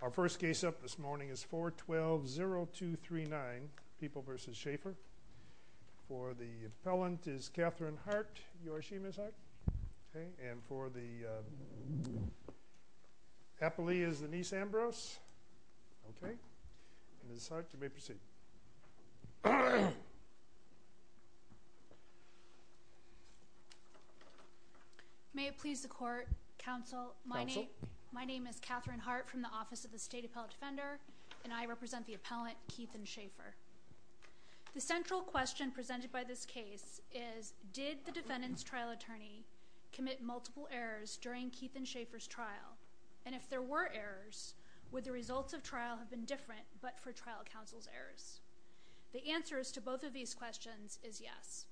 Our first case up this morning is 4-12-0239 People v. Shaffer. For the appellant is Catherine Hart. You are she, Ms. Hart? Okay. And for the appellee is Denise Ambrose. Okay. Ms. Hart, you may proceed. Ms. Hart May it please the court, counsel, my name is Catherine Hart from the Office of the State Appellate Defender, and I represent the appellant Keith and Shaffer. The central question presented by this case is, did the defendant's trial attorney commit multiple errors during Keith and Shaffer's trial? And if there were errors, would the results of trial have been different, but for trial counsel's errors? The answers to both of these questions is yes.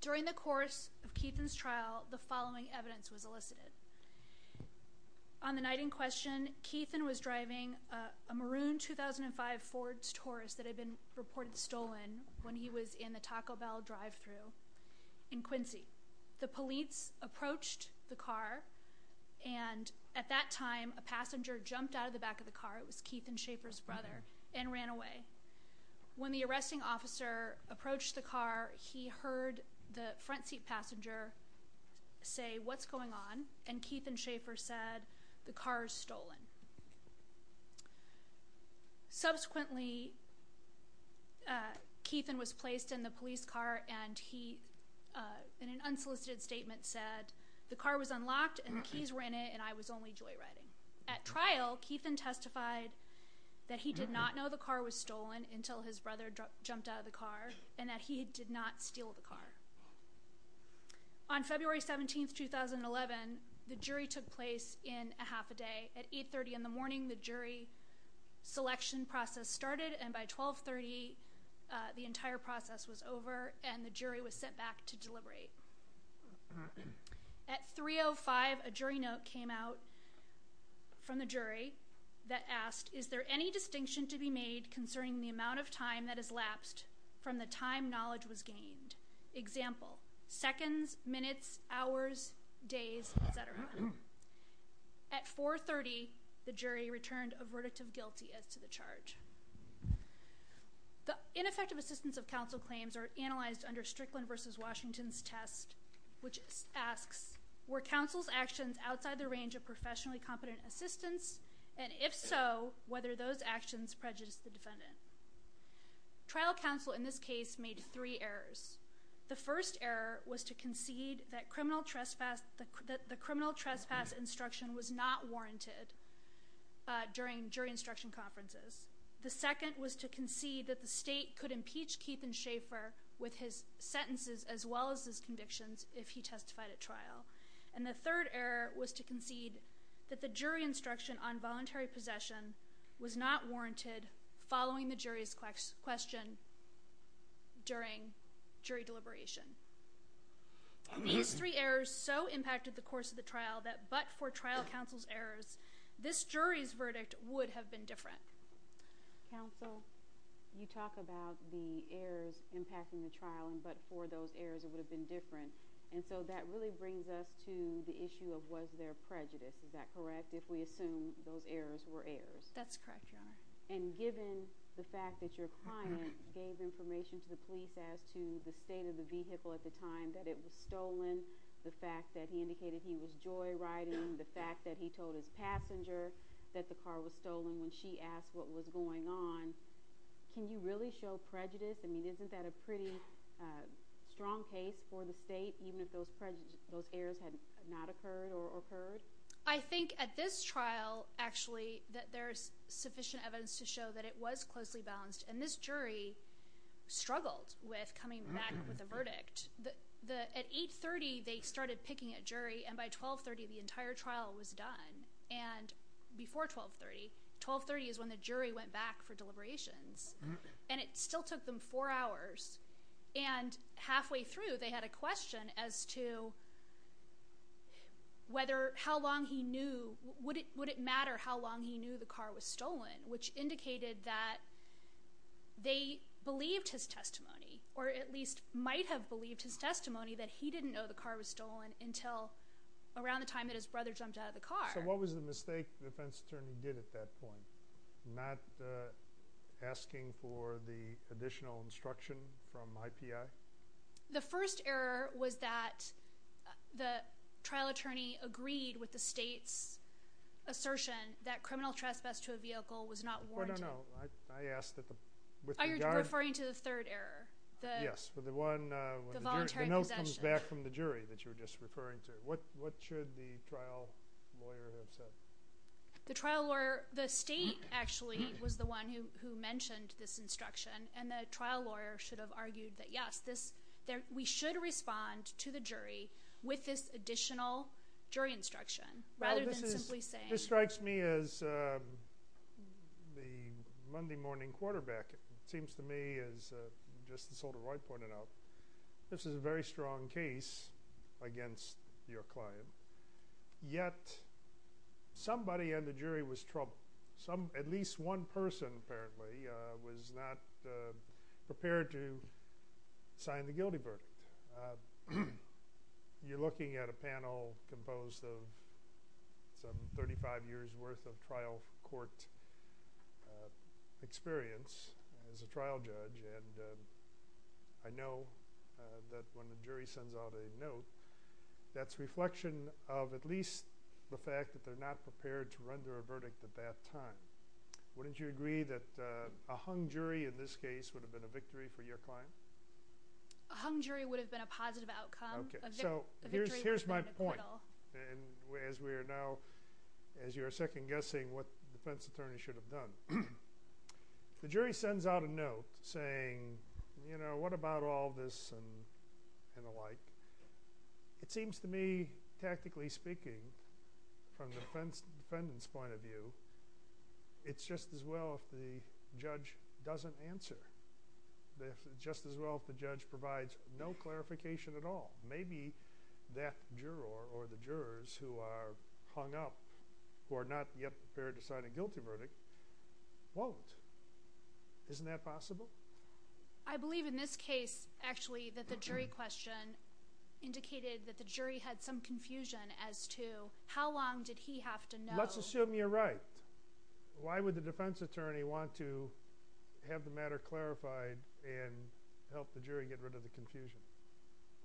During the course of Keith and Shaffer's trial, the following evidence was elicited. On the night in question, Keith and Shaffer was driving a maroon 2005 Ford Taurus that had been reported stolen when he was in the Taco Bell drive-thru in Quincy. The police approached the car, and at that time a passenger jumped out of the back of the car, it was Keith and Shaffer's brother, and ran away. When the arresting officer approached the car, he heard the front seat passenger say, what's going on? And Keith and Shaffer said, the car is stolen. Subsequently, Keith was placed in the police car, and he in an unsolicited statement said, the car was unlocked and the keys were in it, and I was only joyriding. At trial, Keith then testified that he did not know the car was stolen until his brother jumped out of the car, and that he did not steal the car. On February 17, 2011, the jury took place in a half a day. At 830 in the morning, the jury selection process started, and by 1230, the entire process was over, and the jury was sent back to deliberate. At 305, a jury note came out from the jury that asked, is there any distinction to be made concerning the amount of time that has lapsed from the time knowledge was gained? Example, seconds, minutes, hours, days, etc. At 430, the jury returned a verdict of guilty as to the charge. The ineffective assistance of counsel claims are in Justice Washington's test, which asks, were counsel's actions outside the range of professionally competent assistance, and if so, whether those actions prejudiced the defendant? Trial counsel in this case made three errors. The first error was to concede that the criminal trespass instruction was not warranted during jury instruction conferences. The second was to concede that the state could impeach Keith and Schaefer with his sentences as well as his convictions if he testified at trial. And the third error was to concede that the jury instruction on voluntary possession was not warranted following the jury's question during jury deliberation. These three errors so impacted the course of the trial that but for trial counsel's errors, this jury's verdict would have been different. Counsel, you talk about the errors impacting the trial, but for those errors it would have been different. And so that really brings us to the issue of was there prejudice. Is that correct, if we assume those errors were errors? That's correct, Your Honor. And given the fact that your client gave information to the police as to the state of the vehicle at the time that it was stolen, the fact that he indicated he was joyriding, the fact that he told his passenger that the car was stolen when she asked what was going on, can you really show prejudice? I mean, isn't that a pretty strong case for the state, even if those errors had not occurred or occurred? I think at this trial, actually, that there's sufficient evidence to show that it was closely balanced. And this jury struggled with coming back with a verdict. At 8.30, they started picking a jury, and by 12.30, the entire trial was done. And before 12.30, 12.30 is when the jury went back for deliberations. And it still took them four hours. And halfway through, they had a question as to whether how long he knew, would it matter how long he knew the car was stolen, which indicated that they believed his testimony, or at least might have believed his testimony that he didn't know the car was stolen until around the time that his brother jumped out of the car. So what was the mistake the defense attorney did at that point? Not asking for the additional instruction from IPI? The first error was that the trial attorney agreed with the state's assertion that criminal trespass to a vehicle was not warranted. No, no, no. I asked that the... Are you referring to the third error? Yes, the one... The voluntary possession. The note comes back from the jury that you were just referring to. What should the trial lawyer have said? The trial lawyer... The state, actually, was the one who mentioned this instruction, and the trial lawyer should have argued that, yes, we should respond to the jury with this additional jury instruction, rather than simply saying... This strikes me as the Monday morning quarterback. It seems to me, as Justice Holder-Royd pointed out, this is a very strong case against your client, yet somebody in the jury was troubled. At least one person, apparently, was not prepared to sign the guilty verdict. You're looking at a panel composed of some 35 years' worth of trial court experience as a trial judge, and I know that when the jury sends out a note, that's reflection of at least the fact that they're not prepared to render a verdict at that time. Wouldn't you agree that a hung jury, in this case, would have been a victory for your client? A hung jury would have been a positive outcome. Here's my point, as you're second-guessing what the defense attorney should have done. The jury sends out a note saying, you know, what about all this and the like? It seems to me, tactically speaking, from the defendant's point of view, it's just as well if the judge doesn't answer, just as well if the judge provides no clarification at all. Maybe that juror or the jurors who are hung up, who are not yet prepared to sign a guilty verdict, won't. Isn't that possible? I believe in this case, actually, that the jury question indicated that the jury had some confusion as to how long did he have to know? Let's assume you're right. Why would the defense attorney want to have the matter clarified and help the jury get rid of the confusion?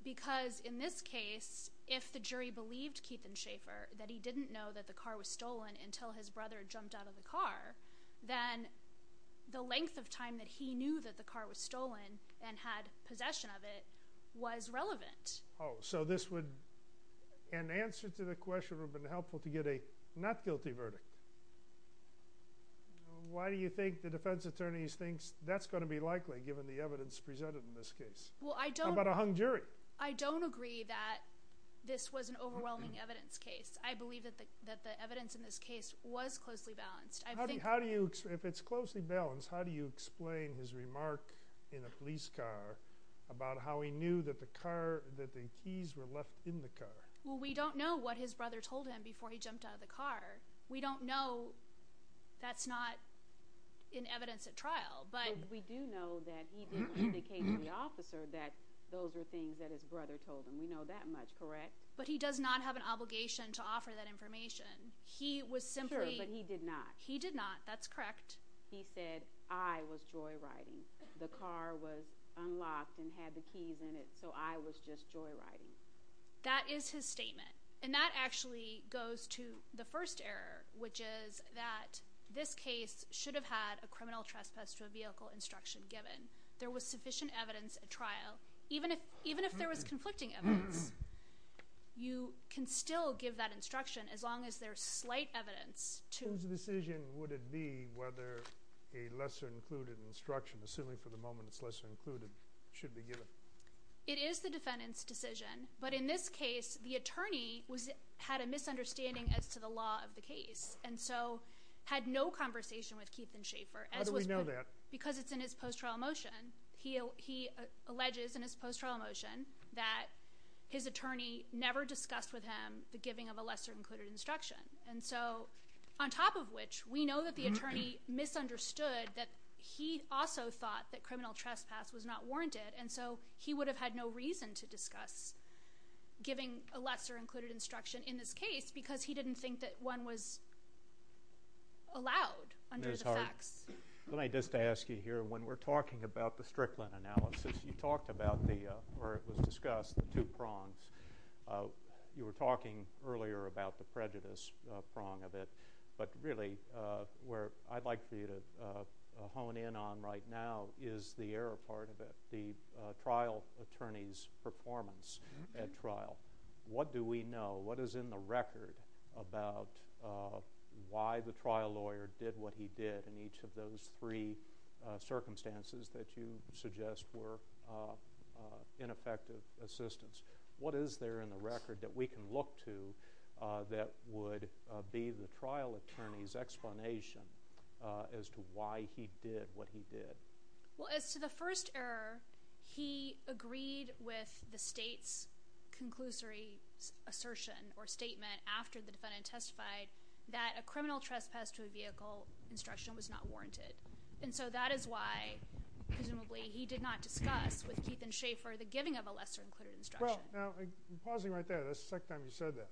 Because in this case, if the jury believed Keith and Schaefer, that he didn't know that the car was stolen until his brother had jumped out of the car, then the length of time that he knew that the car was stolen and had possession of it was relevant. So an answer to the question would have been helpful to get a not guilty verdict. Why do you think the defense attorney thinks that's going to be likely, given the evidence presented in this case? How about a hung jury? I don't agree that this was an overwhelming evidence case. I believe that the evidence in this case was closely balanced. If it's closely balanced, how do you explain his remark in a police car about how he knew that the keys were left in the car? Well, we don't know what his brother told him before he jumped out of the car. We don't know. That's not in evidence at trial. But we do know that he didn't indicate to the officer that those were things that his brother told him. We know that much, correct? But he does not have an obligation to offer that information. Sure, but he did not. He did not. That's correct. He said, I was joyriding. The car was unlocked and had the keys in it, so I was just joyriding. That is his statement. And that actually goes to the first error, which is that this case should have had a criminal trespass to a vehicle instruction given. There was sufficient evidence at trial. Even if there was conflicting evidence, you can still give that instruction as long as there's slight evidence to— What decision would it be whether a lesser-included instruction, assuming for the moment it's lesser-included, should be given? It is the defendant's decision, but in this case, the attorney had a misunderstanding as to the law of the case, and so had no conversation with Keith and Schaefer. How do we know that? Because it's in his post-trial motion. He alleges in his post-trial motion that his attorney never discussed with him the giving of a lesser-included instruction. And so, on top of which, we know that the attorney misunderstood that he also thought that criminal trespass was not warranted, and so he would have had no reason to discuss giving a lesser-included instruction in this case because he didn't think that one was allowed under the facts. Let me just ask you here, when we're talking about the Strickland analysis, you talked about the—or it was discussed, the two prongs. You were talking earlier about the prejudice prong of it, but really, where I'd like for you to hone in on right now is the error part of it, the trial attorney's performance at trial. What do we know? What is in the record about why the trial lawyer did what he did in each of those three circumstances that you suggest were ineffective assistance? What is there in the record that we can look to that would be the trial attorney's explanation as to why he did what he did? Well, as to the first error, he agreed with the state's conclusory assertion or statement after the defendant testified that a criminal trespass to a vehicle instruction was not warranted. And so that is why, presumably, he did not discuss with Keith and Schaefer the giving of a lesser-included instruction. Well, now, pausing right there, that's the second time you've said that.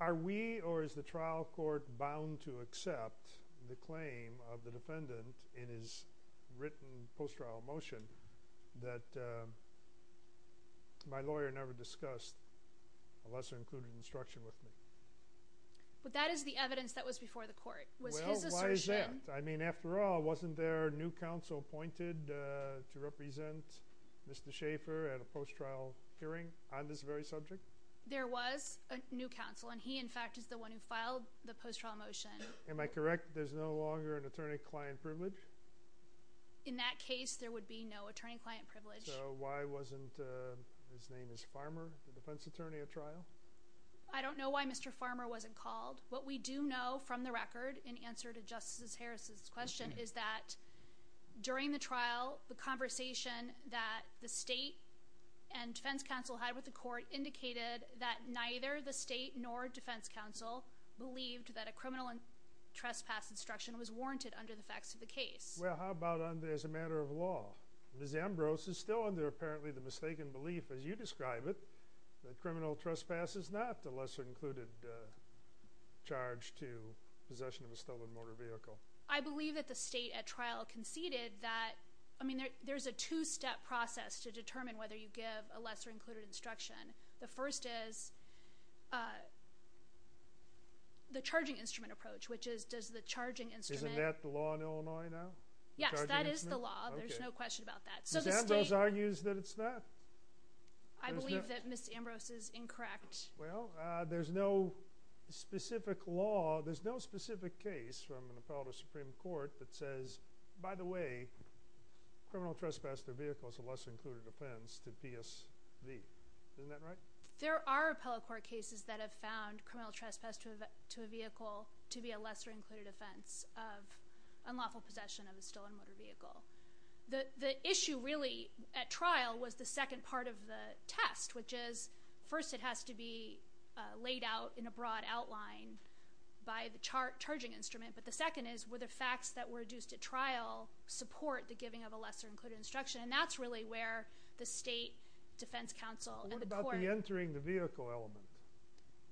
Are we or is the trial court bound to accept the claim of the defendant in his written post-trial motion that my lawyer never discussed a lesser-included instruction with me? But that is the evidence that was before the court. Was his assertion— Well, why is that? I mean, after all, wasn't there a new counsel appointed to represent Mr. Schaefer at a post-trial hearing on this very subject? There was a new counsel, and he, in fact, is the one who filed the post-trial motion. Am I correct that there's no longer an attorney-client privilege? In that case, there would be no attorney-client privilege. So why wasn't—his name is Farmer, the defense attorney at trial? I don't know why Mr. Farmer wasn't called. What we do know from the record, in answer to Justice Harris's question, is that during the trial, the conversation that the state and defense counsel had with the court indicated that neither the state nor defense counsel believed that a criminal trespass instruction was warranted under the facts of the case. Well, how about as a matter of law? Ms. Ambrose is still under, apparently, the mistaken belief, as you describe it, that criminal trespass is not a lesser-included charge to possession of a stolen motor vehicle. I believe that the state at trial conceded that— I mean, there's a two-step process to determine whether you give a lesser-included instruction. The first is the charging instrument approach, which is, does the charging instrument— Isn't that the law in Illinois now? Yes, that is the law. There's no question about that. Ms. Ambrose argues that it's not. I believe that Ms. Ambrose is incorrect. Well, there's no specific law— there's no specific case from an appellate of the Supreme Court that says, by the way, criminal trespass to a vehicle is a lesser-included offense to PSV. Isn't that right? There are appellate court cases that have found criminal trespass to a vehicle to be a lesser-included offense of unlawful possession of a stolen motor vehicle. The issue, really, at trial was the second part of the test, which is, first, it has to be laid out in a broad outline by the charging instrument, but the second is, were the facts that were deduced at trial support the giving of a lesser-included instruction? And that's really where the state defense counsel— What about the entering the vehicle element?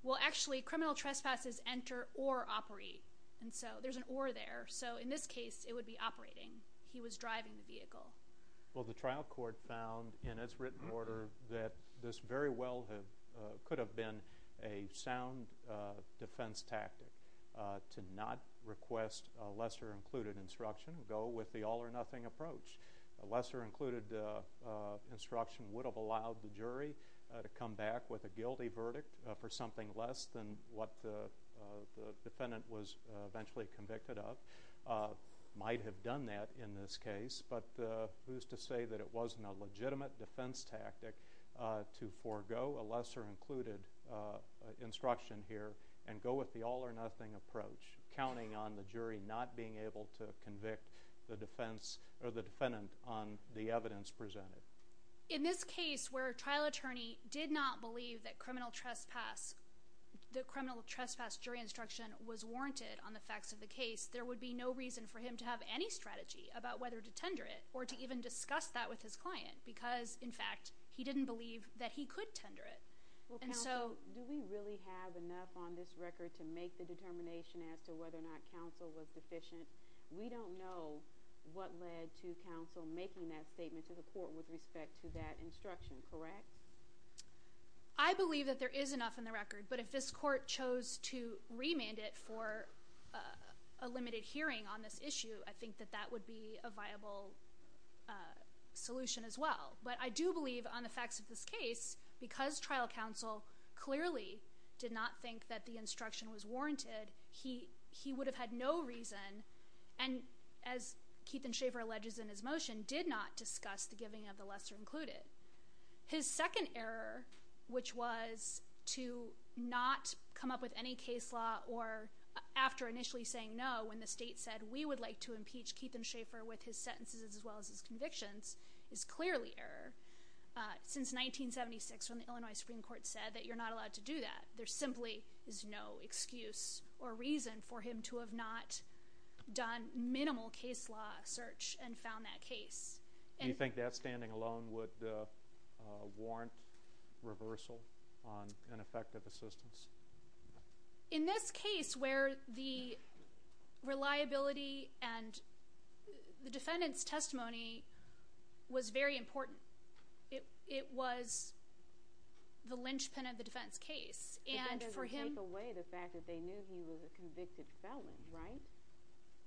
Well, actually, criminal trespasses enter or operate. And so there's an or there. So in this case, it would be operating. He was driving the vehicle. Well, the trial court found, in its written order, that this very well could have been a sound defense tactic to not request a lesser-included instruction and go with the all-or-nothing approach. A lesser-included instruction would have allowed the jury to come back with a guilty verdict for something less than what the defendant was eventually convicted of. Might have done that in this case, but who's to say that it wasn't a legitimate defense tactic to forego a lesser-included instruction here and go with the all-or-nothing approach, counting on the jury not being able to convict the defense— or the defendant on the evidence presented. In this case, where a trial attorney did not believe that criminal trespass— that criminal trespass jury instruction was warranted on the facts of the case, there would be no reason for him to have any strategy about whether to tender it or to even discuss that with his client, because, in fact, he didn't believe that he could tender it. Well, counsel, do we really have enough on this record to make the determination as to whether or not counsel was deficient? We don't know what led to counsel making that statement to the court with respect to that instruction, correct? I believe that there is enough in the record, but if this court chose to remand it for a limited hearing on this issue, I think that that would be a viable solution, as well. But I do believe, on the facts of this case, because trial counsel clearly did not think that the instruction was warranted, he would have had no reason, and as Keethan Schaffer alleges in his motion, did not discuss the giving of the lesser-included. His second error, which was to not come up with any case law or after initially saying no, when the state said, we would like to impeach Keethan Schaffer with his sentences as well as his convictions, is clearly error. Since 1976, when the Illinois Supreme Court said that you're not allowed to do that, there simply is no excuse or reason for him to have not done minimal case law search and found that case. Do you think that standing alone would warrant reversal on ineffective assistance? In this case, where the reliability and the defendant's testimony was very important. It was the linchpin of the defense case, and for him... But that doesn't take away the fact that they knew he was a convicted felon, right?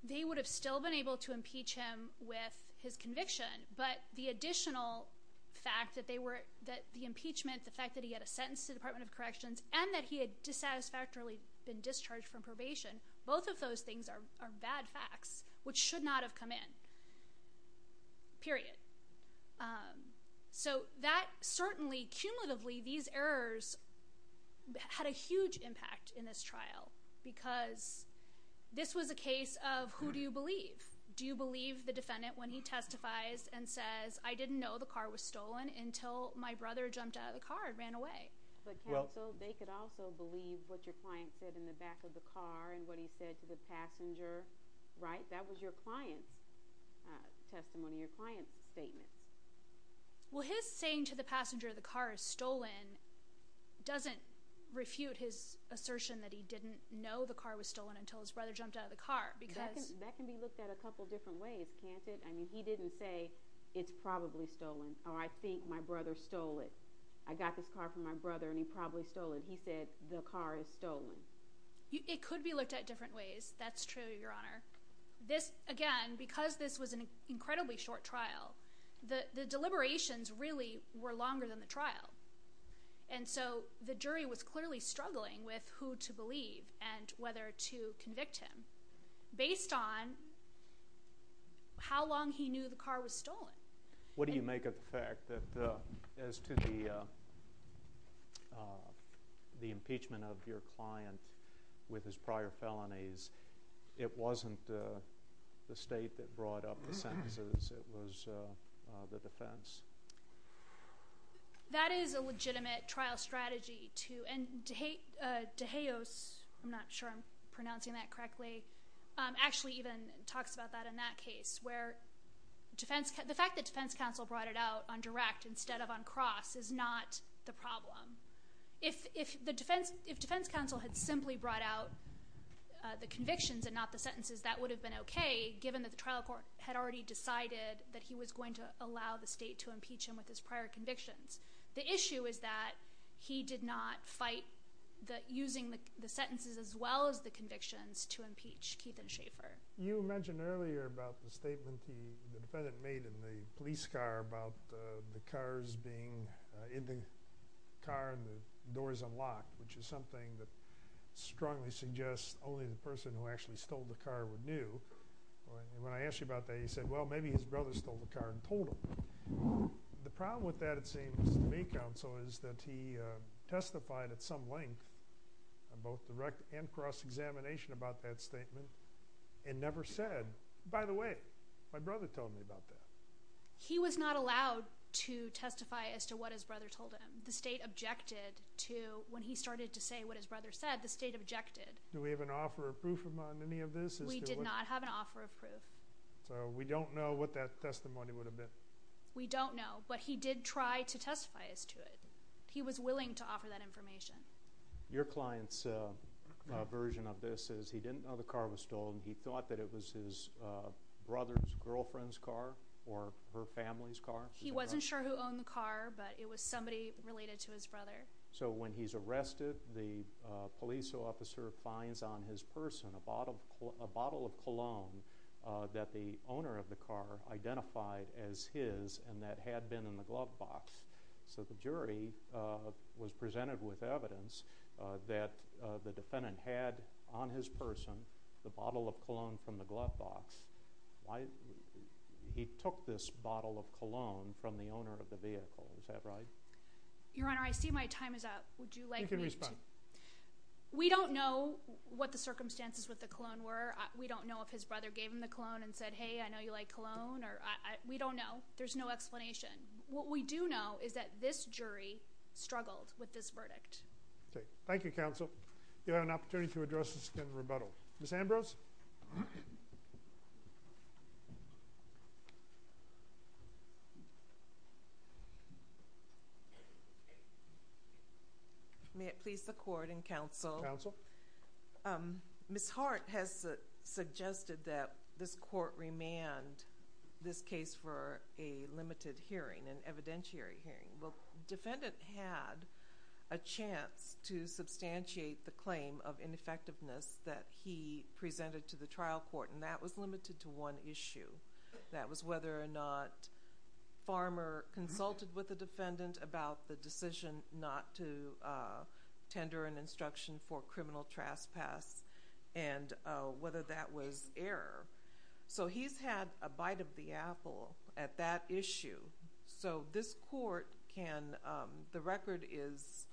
They would have still been able to impeach him with his conviction, but the additional fact that the impeachment, the fact that he had a sentence to the Department of Corrections, and that he had dissatisfactorily been discharged from probation, both of those things are bad facts, which should not have come in. Period. So that certainly, cumulatively, these errors had a huge impact in this trial, because this was a case of who do you believe? Do you believe the defendant when he testifies and says, I didn't know the car was stolen until my brother jumped out of the car and ran away? But counsel, they could also believe what your client said in the back of the car and what he said to the passenger, right? That was your client's testimony, your client's statements. Well, his saying to the passenger, the car is stolen, doesn't refute his assertion that he didn't know the car was stolen until his brother jumped out of the car, because... It could be looked at a couple different ways, can't it? I mean, he didn't say, it's probably stolen, or I think my brother stole it. I got this car from my brother and he probably stole it. He said, the car is stolen. It could be looked at different ways. That's true, Your Honor. This, again, because this was an incredibly short trial, the deliberations really were longer than the trial. And so the jury was clearly struggling with who to believe and whether to convict him. Based on how long he knew the car was stolen. What do you make of the fact that, as to the impeachment of your client with his prior felonies, it wasn't the state that brought up the sentences, it was the defense? That is a legitimate trial strategy to... Degeos, I'm not sure I'm pronouncing that correctly, actually even talks about that in that case, where the fact that defense counsel brought it out on direct instead of on cross is not the problem. If defense counsel had simply brought out the convictions and not the sentences, that would have been okay, given that the trial court had already decided that he was going to allow the state to impeach him with his prior convictions. The issue is that he did not fight using the sentences as well as the convictions to impeach Keith and Schaefer. You mentioned earlier about the statement the defendant made in the police car about the cars being in the car and the doors unlocked, which is something that strongly suggests only the person who actually stole the car would knew. When I asked you about that, you said, well, maybe his brother stole the car and told him. The problem with that, it seems to me, counsel, is that he testified at some length on both direct and cross examination about that statement and never said, by the way, my brother told me about that. He was not allowed to testify as to what his brother told him. The state objected to when he started to say what his brother said, the state objected. Do we have an offer of proof on any of this? We did not have an offer of proof. So we don't know what that testimony would have been. We don't know, but he did try to testify as to it. He was willing to offer that information. Your client's version of this is he didn't know the car was stolen. He thought that it was his brother's girlfriend's car or her family's car. He wasn't sure who owned the car, but it was somebody related to his brother. So when he's arrested, the police officer finds on his person a bottle of cologne that the owner of the car identified as his and that had been in the glove box. So the jury was presented with evidence that the defendant had on his person the bottle of cologne from the glove box. He took this bottle of cologne from the owner of the vehicle. Is that right? Your Honour, I see my time is up. You can respond. We don't know what the circumstances with the cologne were. We don't know if his brother gave him the cologne and said, hey, I know you like cologne. We don't know. There's no explanation. What we do know is that this jury struggled with this verdict. Thank you, counsel. You have an opportunity to address this again in rebuttal. Ms. Ambrose? May it please the Court and counsel. Counsel? Ms. Hart has suggested that this court remand this case for a limited hearing, an evidentiary hearing. Well, the defendant had a chance to substantiate the claim of ineffectiveness I'm not aware of that. I'm not aware of that. to the trial court, and that was limited to one issue. That was whether or not Farmer consulted with the defendant about the decision not to tender an instruction for criminal trespass and whether that was error. So he's had a bite of the apple at that issue. So this court can the record is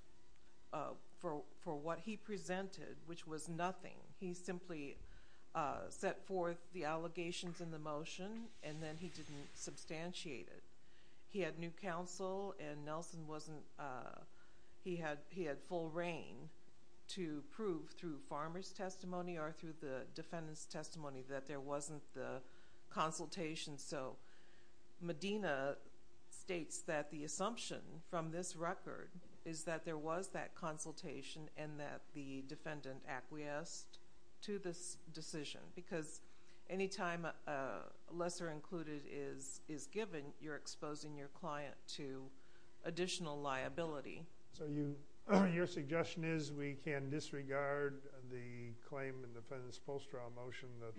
for what he presented, which was nothing. He simply set forth the allegations in the motion, and then he didn't substantiate it. He had new counsel, and Nelson wasn't... He had full reign to prove through Farmer's testimony or through the defendant's testimony that there wasn't the consultation. So Medina states that the assumption from this record is that there was that consultation and that the defendant acquiesced to this decision, because any time a lesser included is given, you're exposing your client to additional liability. So your suggestion is we can disregard the claim in the defendant's post-trial motion that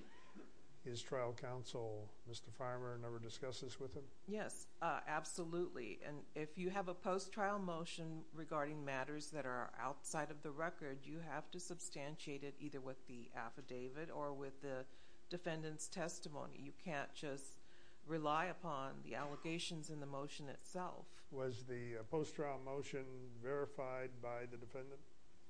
his trial counsel, Mr. Farmer, never discussed this with him? Yes, absolutely. And if you have a post-trial motion regarding matters that are outside of the record, you have to substantiate it either with the affidavit or with the defendant's testimony. You can't just rely upon the allegations in the motion itself. Was the post-trial motion verified by the defendant?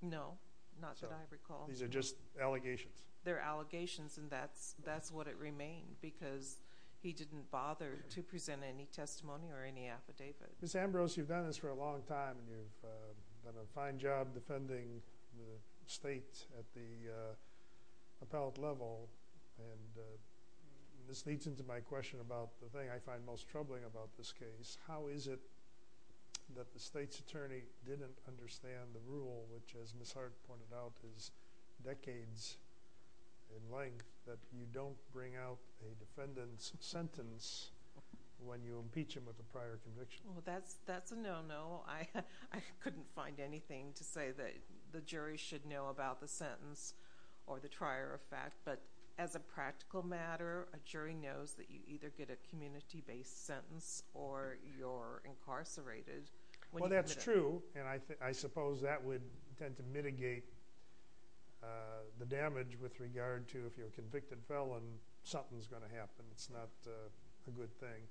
No, not that I recall. These are just allegations? They're allegations, and that's what it remained, because he didn't bother to present any testimony or any affidavit. Ms. Ambrose, you've done this for a long time and you've done a fine job defending the state at the appellate level, and this leads into my question about the thing I find most troubling about this case. How is it that the state's attorney didn't understand the rule, which, as Ms. Hart pointed out, is decades in length, that you don't bring out a defendant's sentence when you impeach him with a prior conviction? Well, that's a no-no. I couldn't find anything to say that the jury should know about the sentence or the trier of fact, but as a practical matter, a jury knows that you either get a community-based sentence or you're incarcerated. Well, that's true, and I suppose that would tend to mitigate the damage with regard to if you're a convicted felon, something's going to happen. It's not a good thing.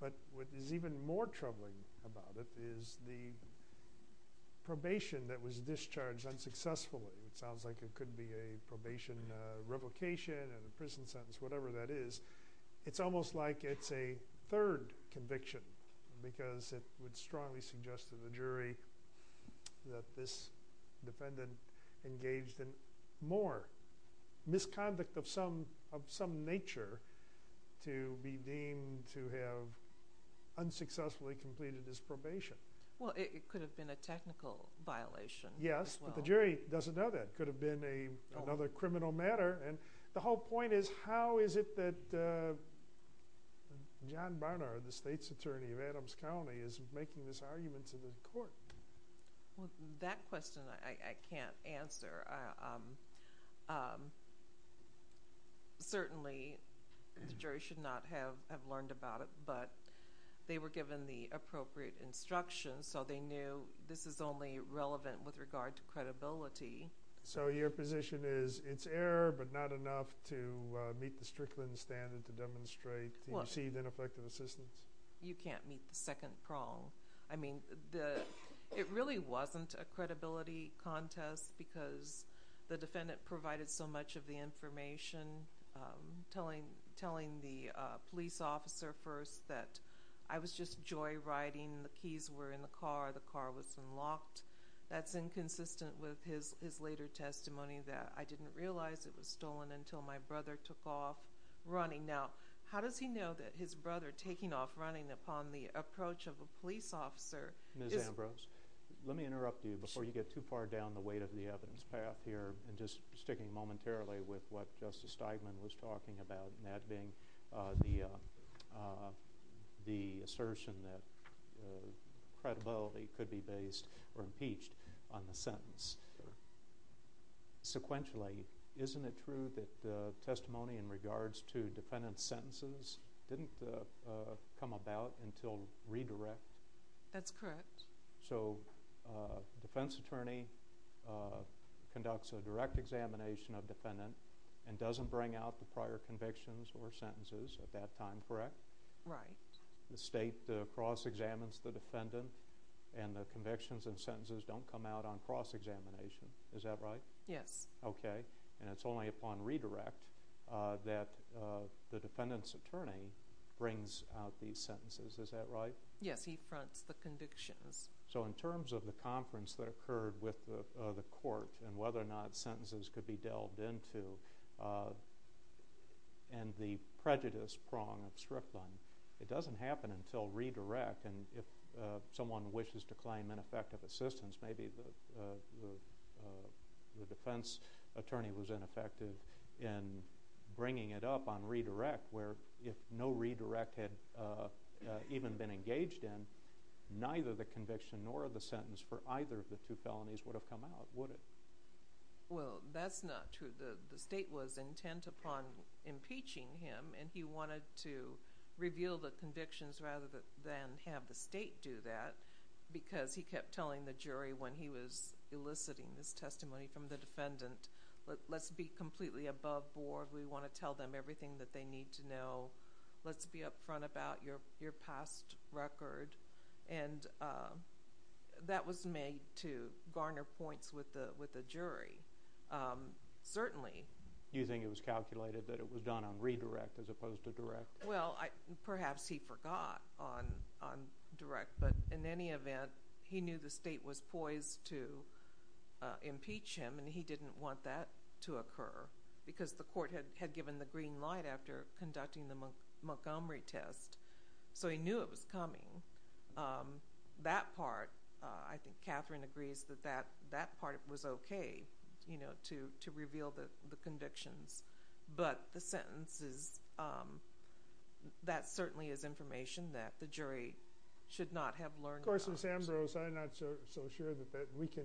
But what is even more troubling about it is the probation that was discharged unsuccessfully. It sounds like it could be a probation revocation and a prison sentence, whatever that is. It's almost like it's a third conviction because it would strongly suggest to the jury that this defendant engaged in more misconduct of some nature to be deemed to have unsuccessfully completed his probation. Well, it could have been a technical violation. Yes, but the jury doesn't know that. It could have been another criminal matter. And the whole point is, how is it that John Barnard, the state's attorney of Adams County, is making this argument to the court? Well, that question I can't answer. Certainly, the jury should not have learned about it, but they were given the appropriate instructions, so they knew this is only relevant with regard to credibility. So your position is it's error, but not enough to meet the Strickland standard to demonstrate to receive ineffective assistance? You can't meet the second prong. I mean, it really wasn't a credibility contest because the defendant provided so much of the information, telling the police officer first that I was just joyriding, the keys were in the car, the car was unlocked. That's inconsistent with his later testimony that I didn't realize it was stolen until my brother took off running. Now, how does he know that his brother taking off running upon the approach of a police officer... Ms. Ambrose, let me interrupt you before you get too far down the weight of the evidence path here and just sticking momentarily with what Justice Steigman was talking about, and that being the assertion that credibility could be based or impeached on the sentence. Sure. Sequentially, isn't it true that testimony in regards to defendant's sentences didn't come about until redirect? That's correct. So defense attorney conducts a direct examination of defendant and doesn't bring out the prior convictions or sentences at that time, correct? Right. The state cross-examines the defendant and the convictions and sentences don't come out on cross-examination. Is that right? Yes. Okay. And it's only upon redirect that the defendant's attorney brings out these sentences. Is that right? Yes, he fronts the convictions. So in terms of the conference that occurred with the court and whether or not sentences could be delved into and the prejudice prong of Strickland, it doesn't happen until redirect. And if someone wishes to claim ineffective assistance, maybe the defense attorney was ineffective in bringing it up on redirect, where if no redirect had even been engaged in, neither the conviction nor the sentence for either of the two felonies would have come out, would it? Well, that's not true. The state was intent upon impeaching him and he wanted to reveal the convictions rather than have the state do that because he kept telling the jury when he was eliciting this testimony from the defendant, let's be completely above board, we want to tell them everything that they need to know, let's be upfront about your past record, and that was made to garner points with the jury. Certainly. You think it was calculated that it was done on redirect as opposed to direct? Well, perhaps he forgot on direct, but in any event, he knew the state was poised to impeach him and he didn't want that to occur because the court had given the green light after conducting the Montgomery test, so he knew it was coming. That part, I think Catherine agrees that that part was okay to reveal the convictions, but the sentences, that certainly is information that the jury should not have learned. Of course, Ms. Ambrose, I'm not so sure that we can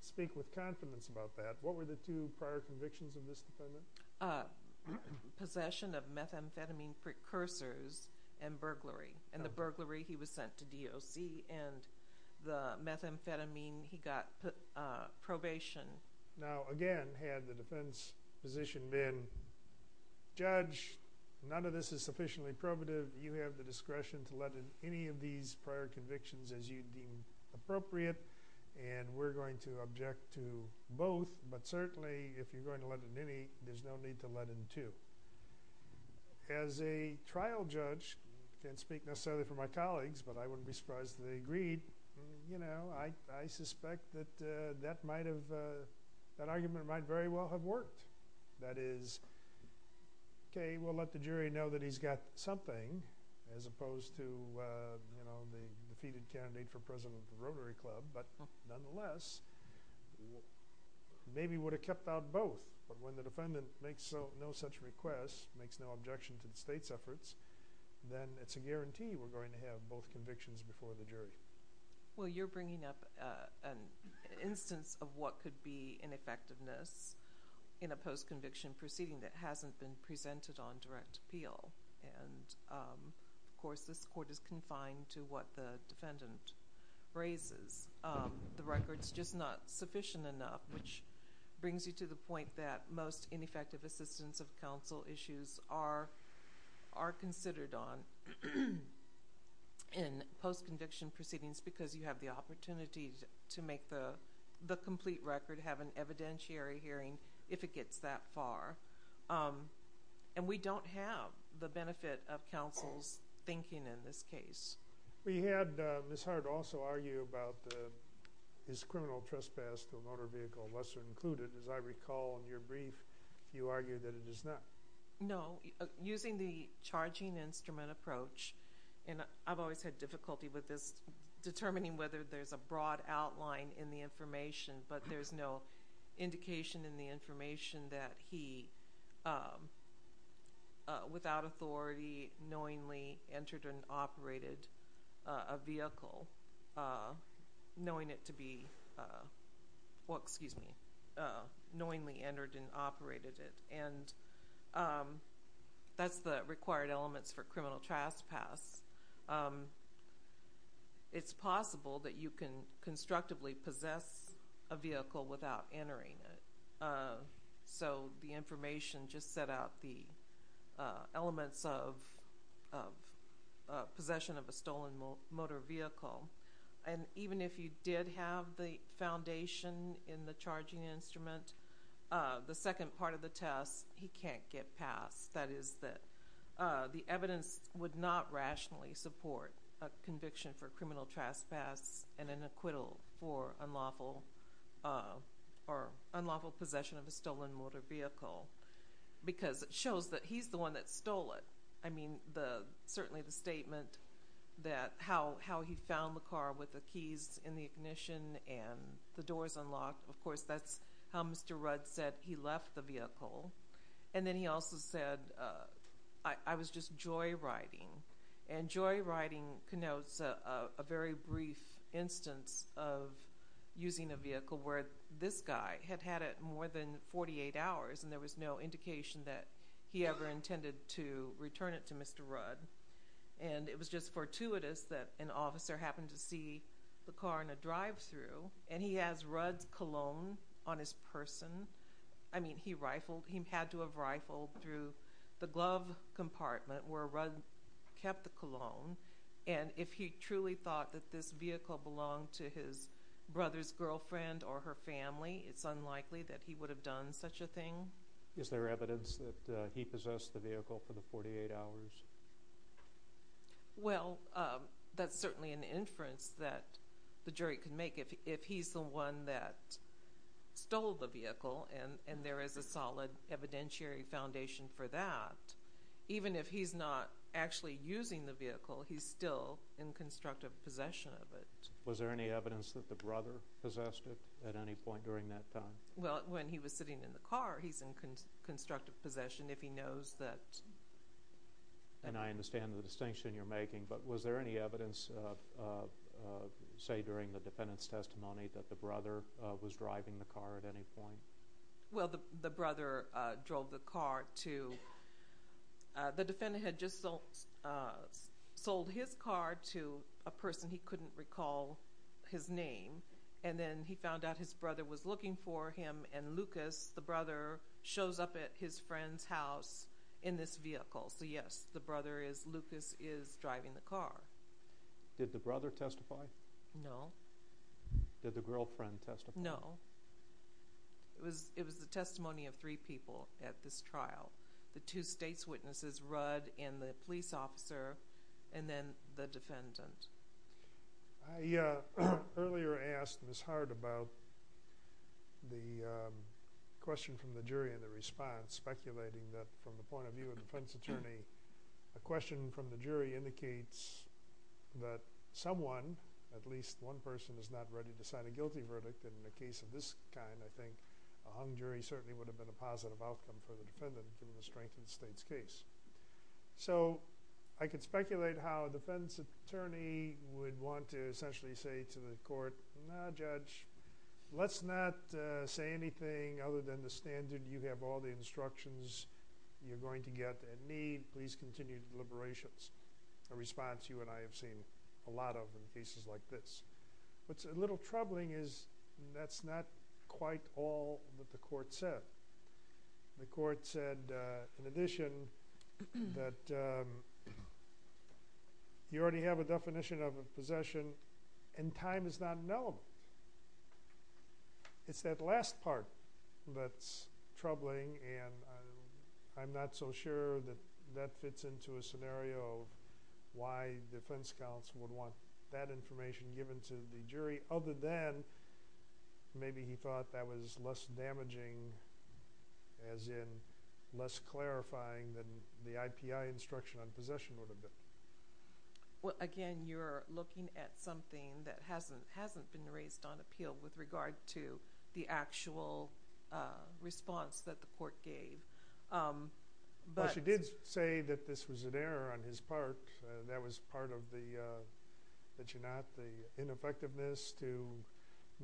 speak with confidence about that. What were the two prior convictions of this defendant? Possession of methamphetamine precursors and burglary, and the burglary, he was sent to DOC, and the methamphetamine, he got probation. Now, again, had the defense position been, Judge, none of this is sufficiently probative, you have the discretion to let in any of these prior convictions as you deem appropriate, and we're going to object to both, but certainly, if you're going to let in any, there's no need to let in two. As a trial judge, I can't speak necessarily for my colleagues, but I wouldn't be surprised if they agreed, you know, I suspect that that might have, that argument might very well have worked. That is, okay, we'll let the jury know that he's got something, as opposed to, you know, the defeated candidate for president of the Rotary Club, but nonetheless, maybe would have kept out both, but when the defendant makes no such request, makes no objection to the state's efforts, then it's a guarantee we're going to have both convictions before the jury. Well, you're bringing up an instance of what could be ineffectiveness in a post-conviction proceeding that hasn't been presented on direct appeal, and of course, this court is confined to what the defendant raises. The record's just not sufficient enough, which brings you to the point that most ineffective assistance of counsel issues are considered on in post-conviction proceedings because you have the opportunity to make the complete record, have an evidentiary hearing if it gets that far, and we don't have the benefit of counsel's thinking in this case. We had Ms. Hart also argue about his criminal trespass to a motor vehicle, lesser included. As I recall in your brief, you argued that it is not. No. Using the charging instrument approach, and I've always had difficulty with this, determining whether there's a broad outline in the information, but there's no indication in the information that he, without authority, knowingly entered and operated a vehicle, knowing it to be... well, excuse me, knowingly entered and operated it, and that's the required elements for criminal trespass. It's possible that you can constructively possess a vehicle without entering it. So the information just set out the elements of possession of a stolen motor vehicle. And even if you did have the foundation in the charging instrument, the second part of the test, he can't get past. That is that the evidence would not rationally support a conviction for criminal trespass and an acquittal for unlawful... or unlawful possession of a stolen motor vehicle, because it shows that he's the one that stole it. I mean, certainly the statement that how he found the car with the keys in the ignition and the doors unlocked. Of course, that's how Mr. Rudd said he left the vehicle. And then he also said, I was just joyriding. And joyriding connotes a very brief instance of using a vehicle where this guy had had it more than 48 hours, and there was no indication that he ever intended to return it to Mr. Rudd. And it was just fortuitous that an officer happened to see the car in a drive-thru, and he has Rudd's cologne on his person. I mean, he rifled. He had to have rifled through the glove compartment where Rudd kept the cologne. And if he truly thought that this vehicle belonged to his brother's girlfriend or her family, it's unlikely that he would have done such a thing. Is there evidence that he possessed the vehicle for the 48 hours? Well, that's certainly an inference that the jury can make. If he's the one that stole the vehicle, and there is a solid evidentiary foundation for that, even if he's not actually using the vehicle, he's still in constructive possession of it. Was there any evidence that the brother possessed it at any point during that time? Well, when he was sitting in the car, he's in constructive possession if he knows that... And I understand the distinction you're making, but was there any evidence, say, during the defendant's testimony that the brother was driving the car at any point? Well, the brother drove the car to... The defendant had just sold his car to a person he couldn't recall his name, and then he found out his brother was looking for him, and Lucas, the brother, shows up at his friend's house in this vehicle. So yes, the brother is... Lucas is driving the car. Did the brother testify? No. Did the girlfriend testify? No. It was the testimony of three people at this trial. The two state's witnesses, Rudd and the police officer, and then the defendant. I earlier asked Ms. Hart about the question from the jury in the response, speculating that from the point of view of defense attorney, a question from the jury indicates that someone, at least one person, is not ready to sign a guilty verdict. In a case of this kind, I think a hung jury certainly would have been a positive outcome for the defendant given the strength of the state's case. So I could speculate how a defense attorney would want to essentially say to the court, no, Judge, let's not say anything other than the standard, you have all the instructions you're going to get and need, please continue the deliberations. A response you and I have seen a lot of in cases like this. What's a little troubling is that's not quite all that the court said. The court said, in addition, that you already have a definition of a possession and time is not an element. It's that last part that's troubling and I'm not so sure that that fits into a scenario of why defense counsel would want that information given to the jury other than maybe he thought that was less damaging, as in less clarifying than the IPI instruction on possession would have been. Again, you're looking at something that hasn't been raised on appeal with regard to the actual response that the court gave. She did say that this was an error on his part and that was part of the ineffectiveness to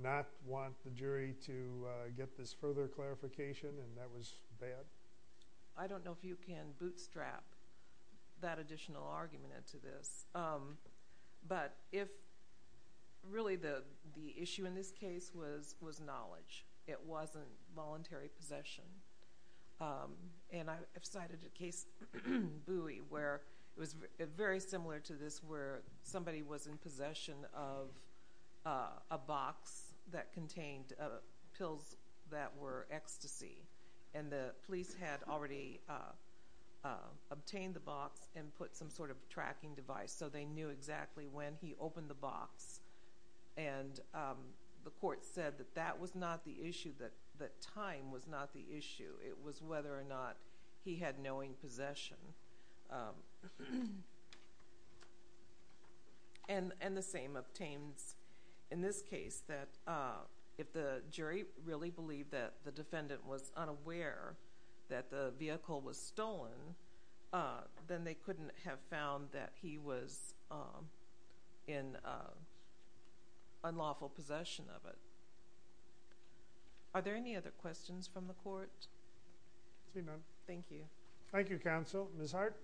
not want the jury to get this further clarification and that was bad. I don't know if you can bootstrap that additional argument into this, but really the issue in this case was knowledge. It wasn't voluntary possession. I've cited a case in Bowie where it was very similar to this where somebody was in possession of a box that contained pills that were ecstasy and the police had already obtained the box and put some sort of tracking device so they knew exactly when he opened the box and the court said that that was not the issue, that time was not the issue. It was whether or not he had knowing possession. And the same obtains in this case that if the jury really believed that the defendant was unaware that the vehicle was stolen, then they couldn't have found that he was in unlawful possession of it. Are there any other questions from the court? Thank you. Thank you, counsel. Ms. Hart?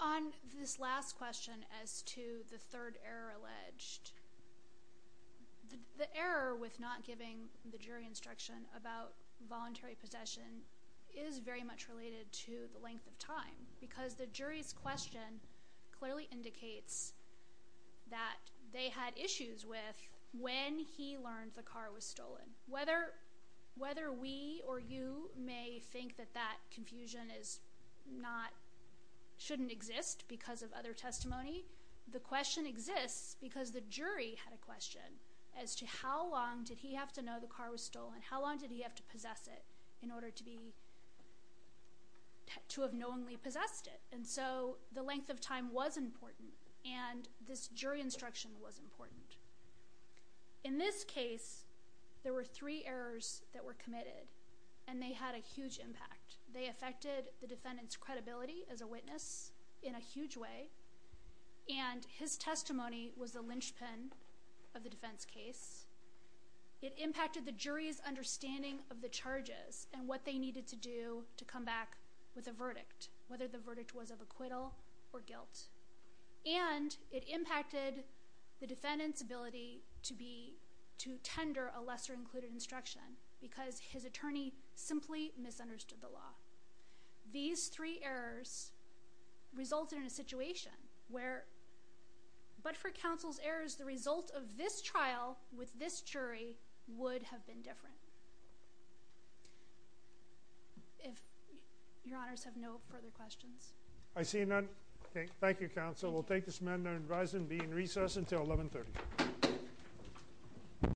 On this last question as to the third error alleged, the error with not giving the jury instruction about voluntary possession because the jury's question clearly indicates that they had issues with when he learned the car was stolen. Whether we or you may think that that confusion shouldn't exist because of other testimony, the question exists because the jury had a question as to how long did he have to know the car was stolen, how long did he have to possess it in order to have knowingly possessed it? And so the length of time was important, and this jury instruction was important. In this case, there were three errors that were committed, and they had a huge impact. They affected the defendant's credibility as a witness in a huge way, and his testimony was the linchpin of the defense case. It impacted the jury's understanding of the charges and what they needed to do to come back with a verdict, whether the verdict was of acquittal or guilt. And it impacted the defendant's ability to tender a lesser-included instruction because his attorney simply misunderstood the law. These three errors resulted in a situation where... But for counsel's errors, the result of this trial with this jury would have been different. If... your honors have no further questions. I see none. Thank you, counsel. We'll take this amendment and rise and be in recess until 11.30.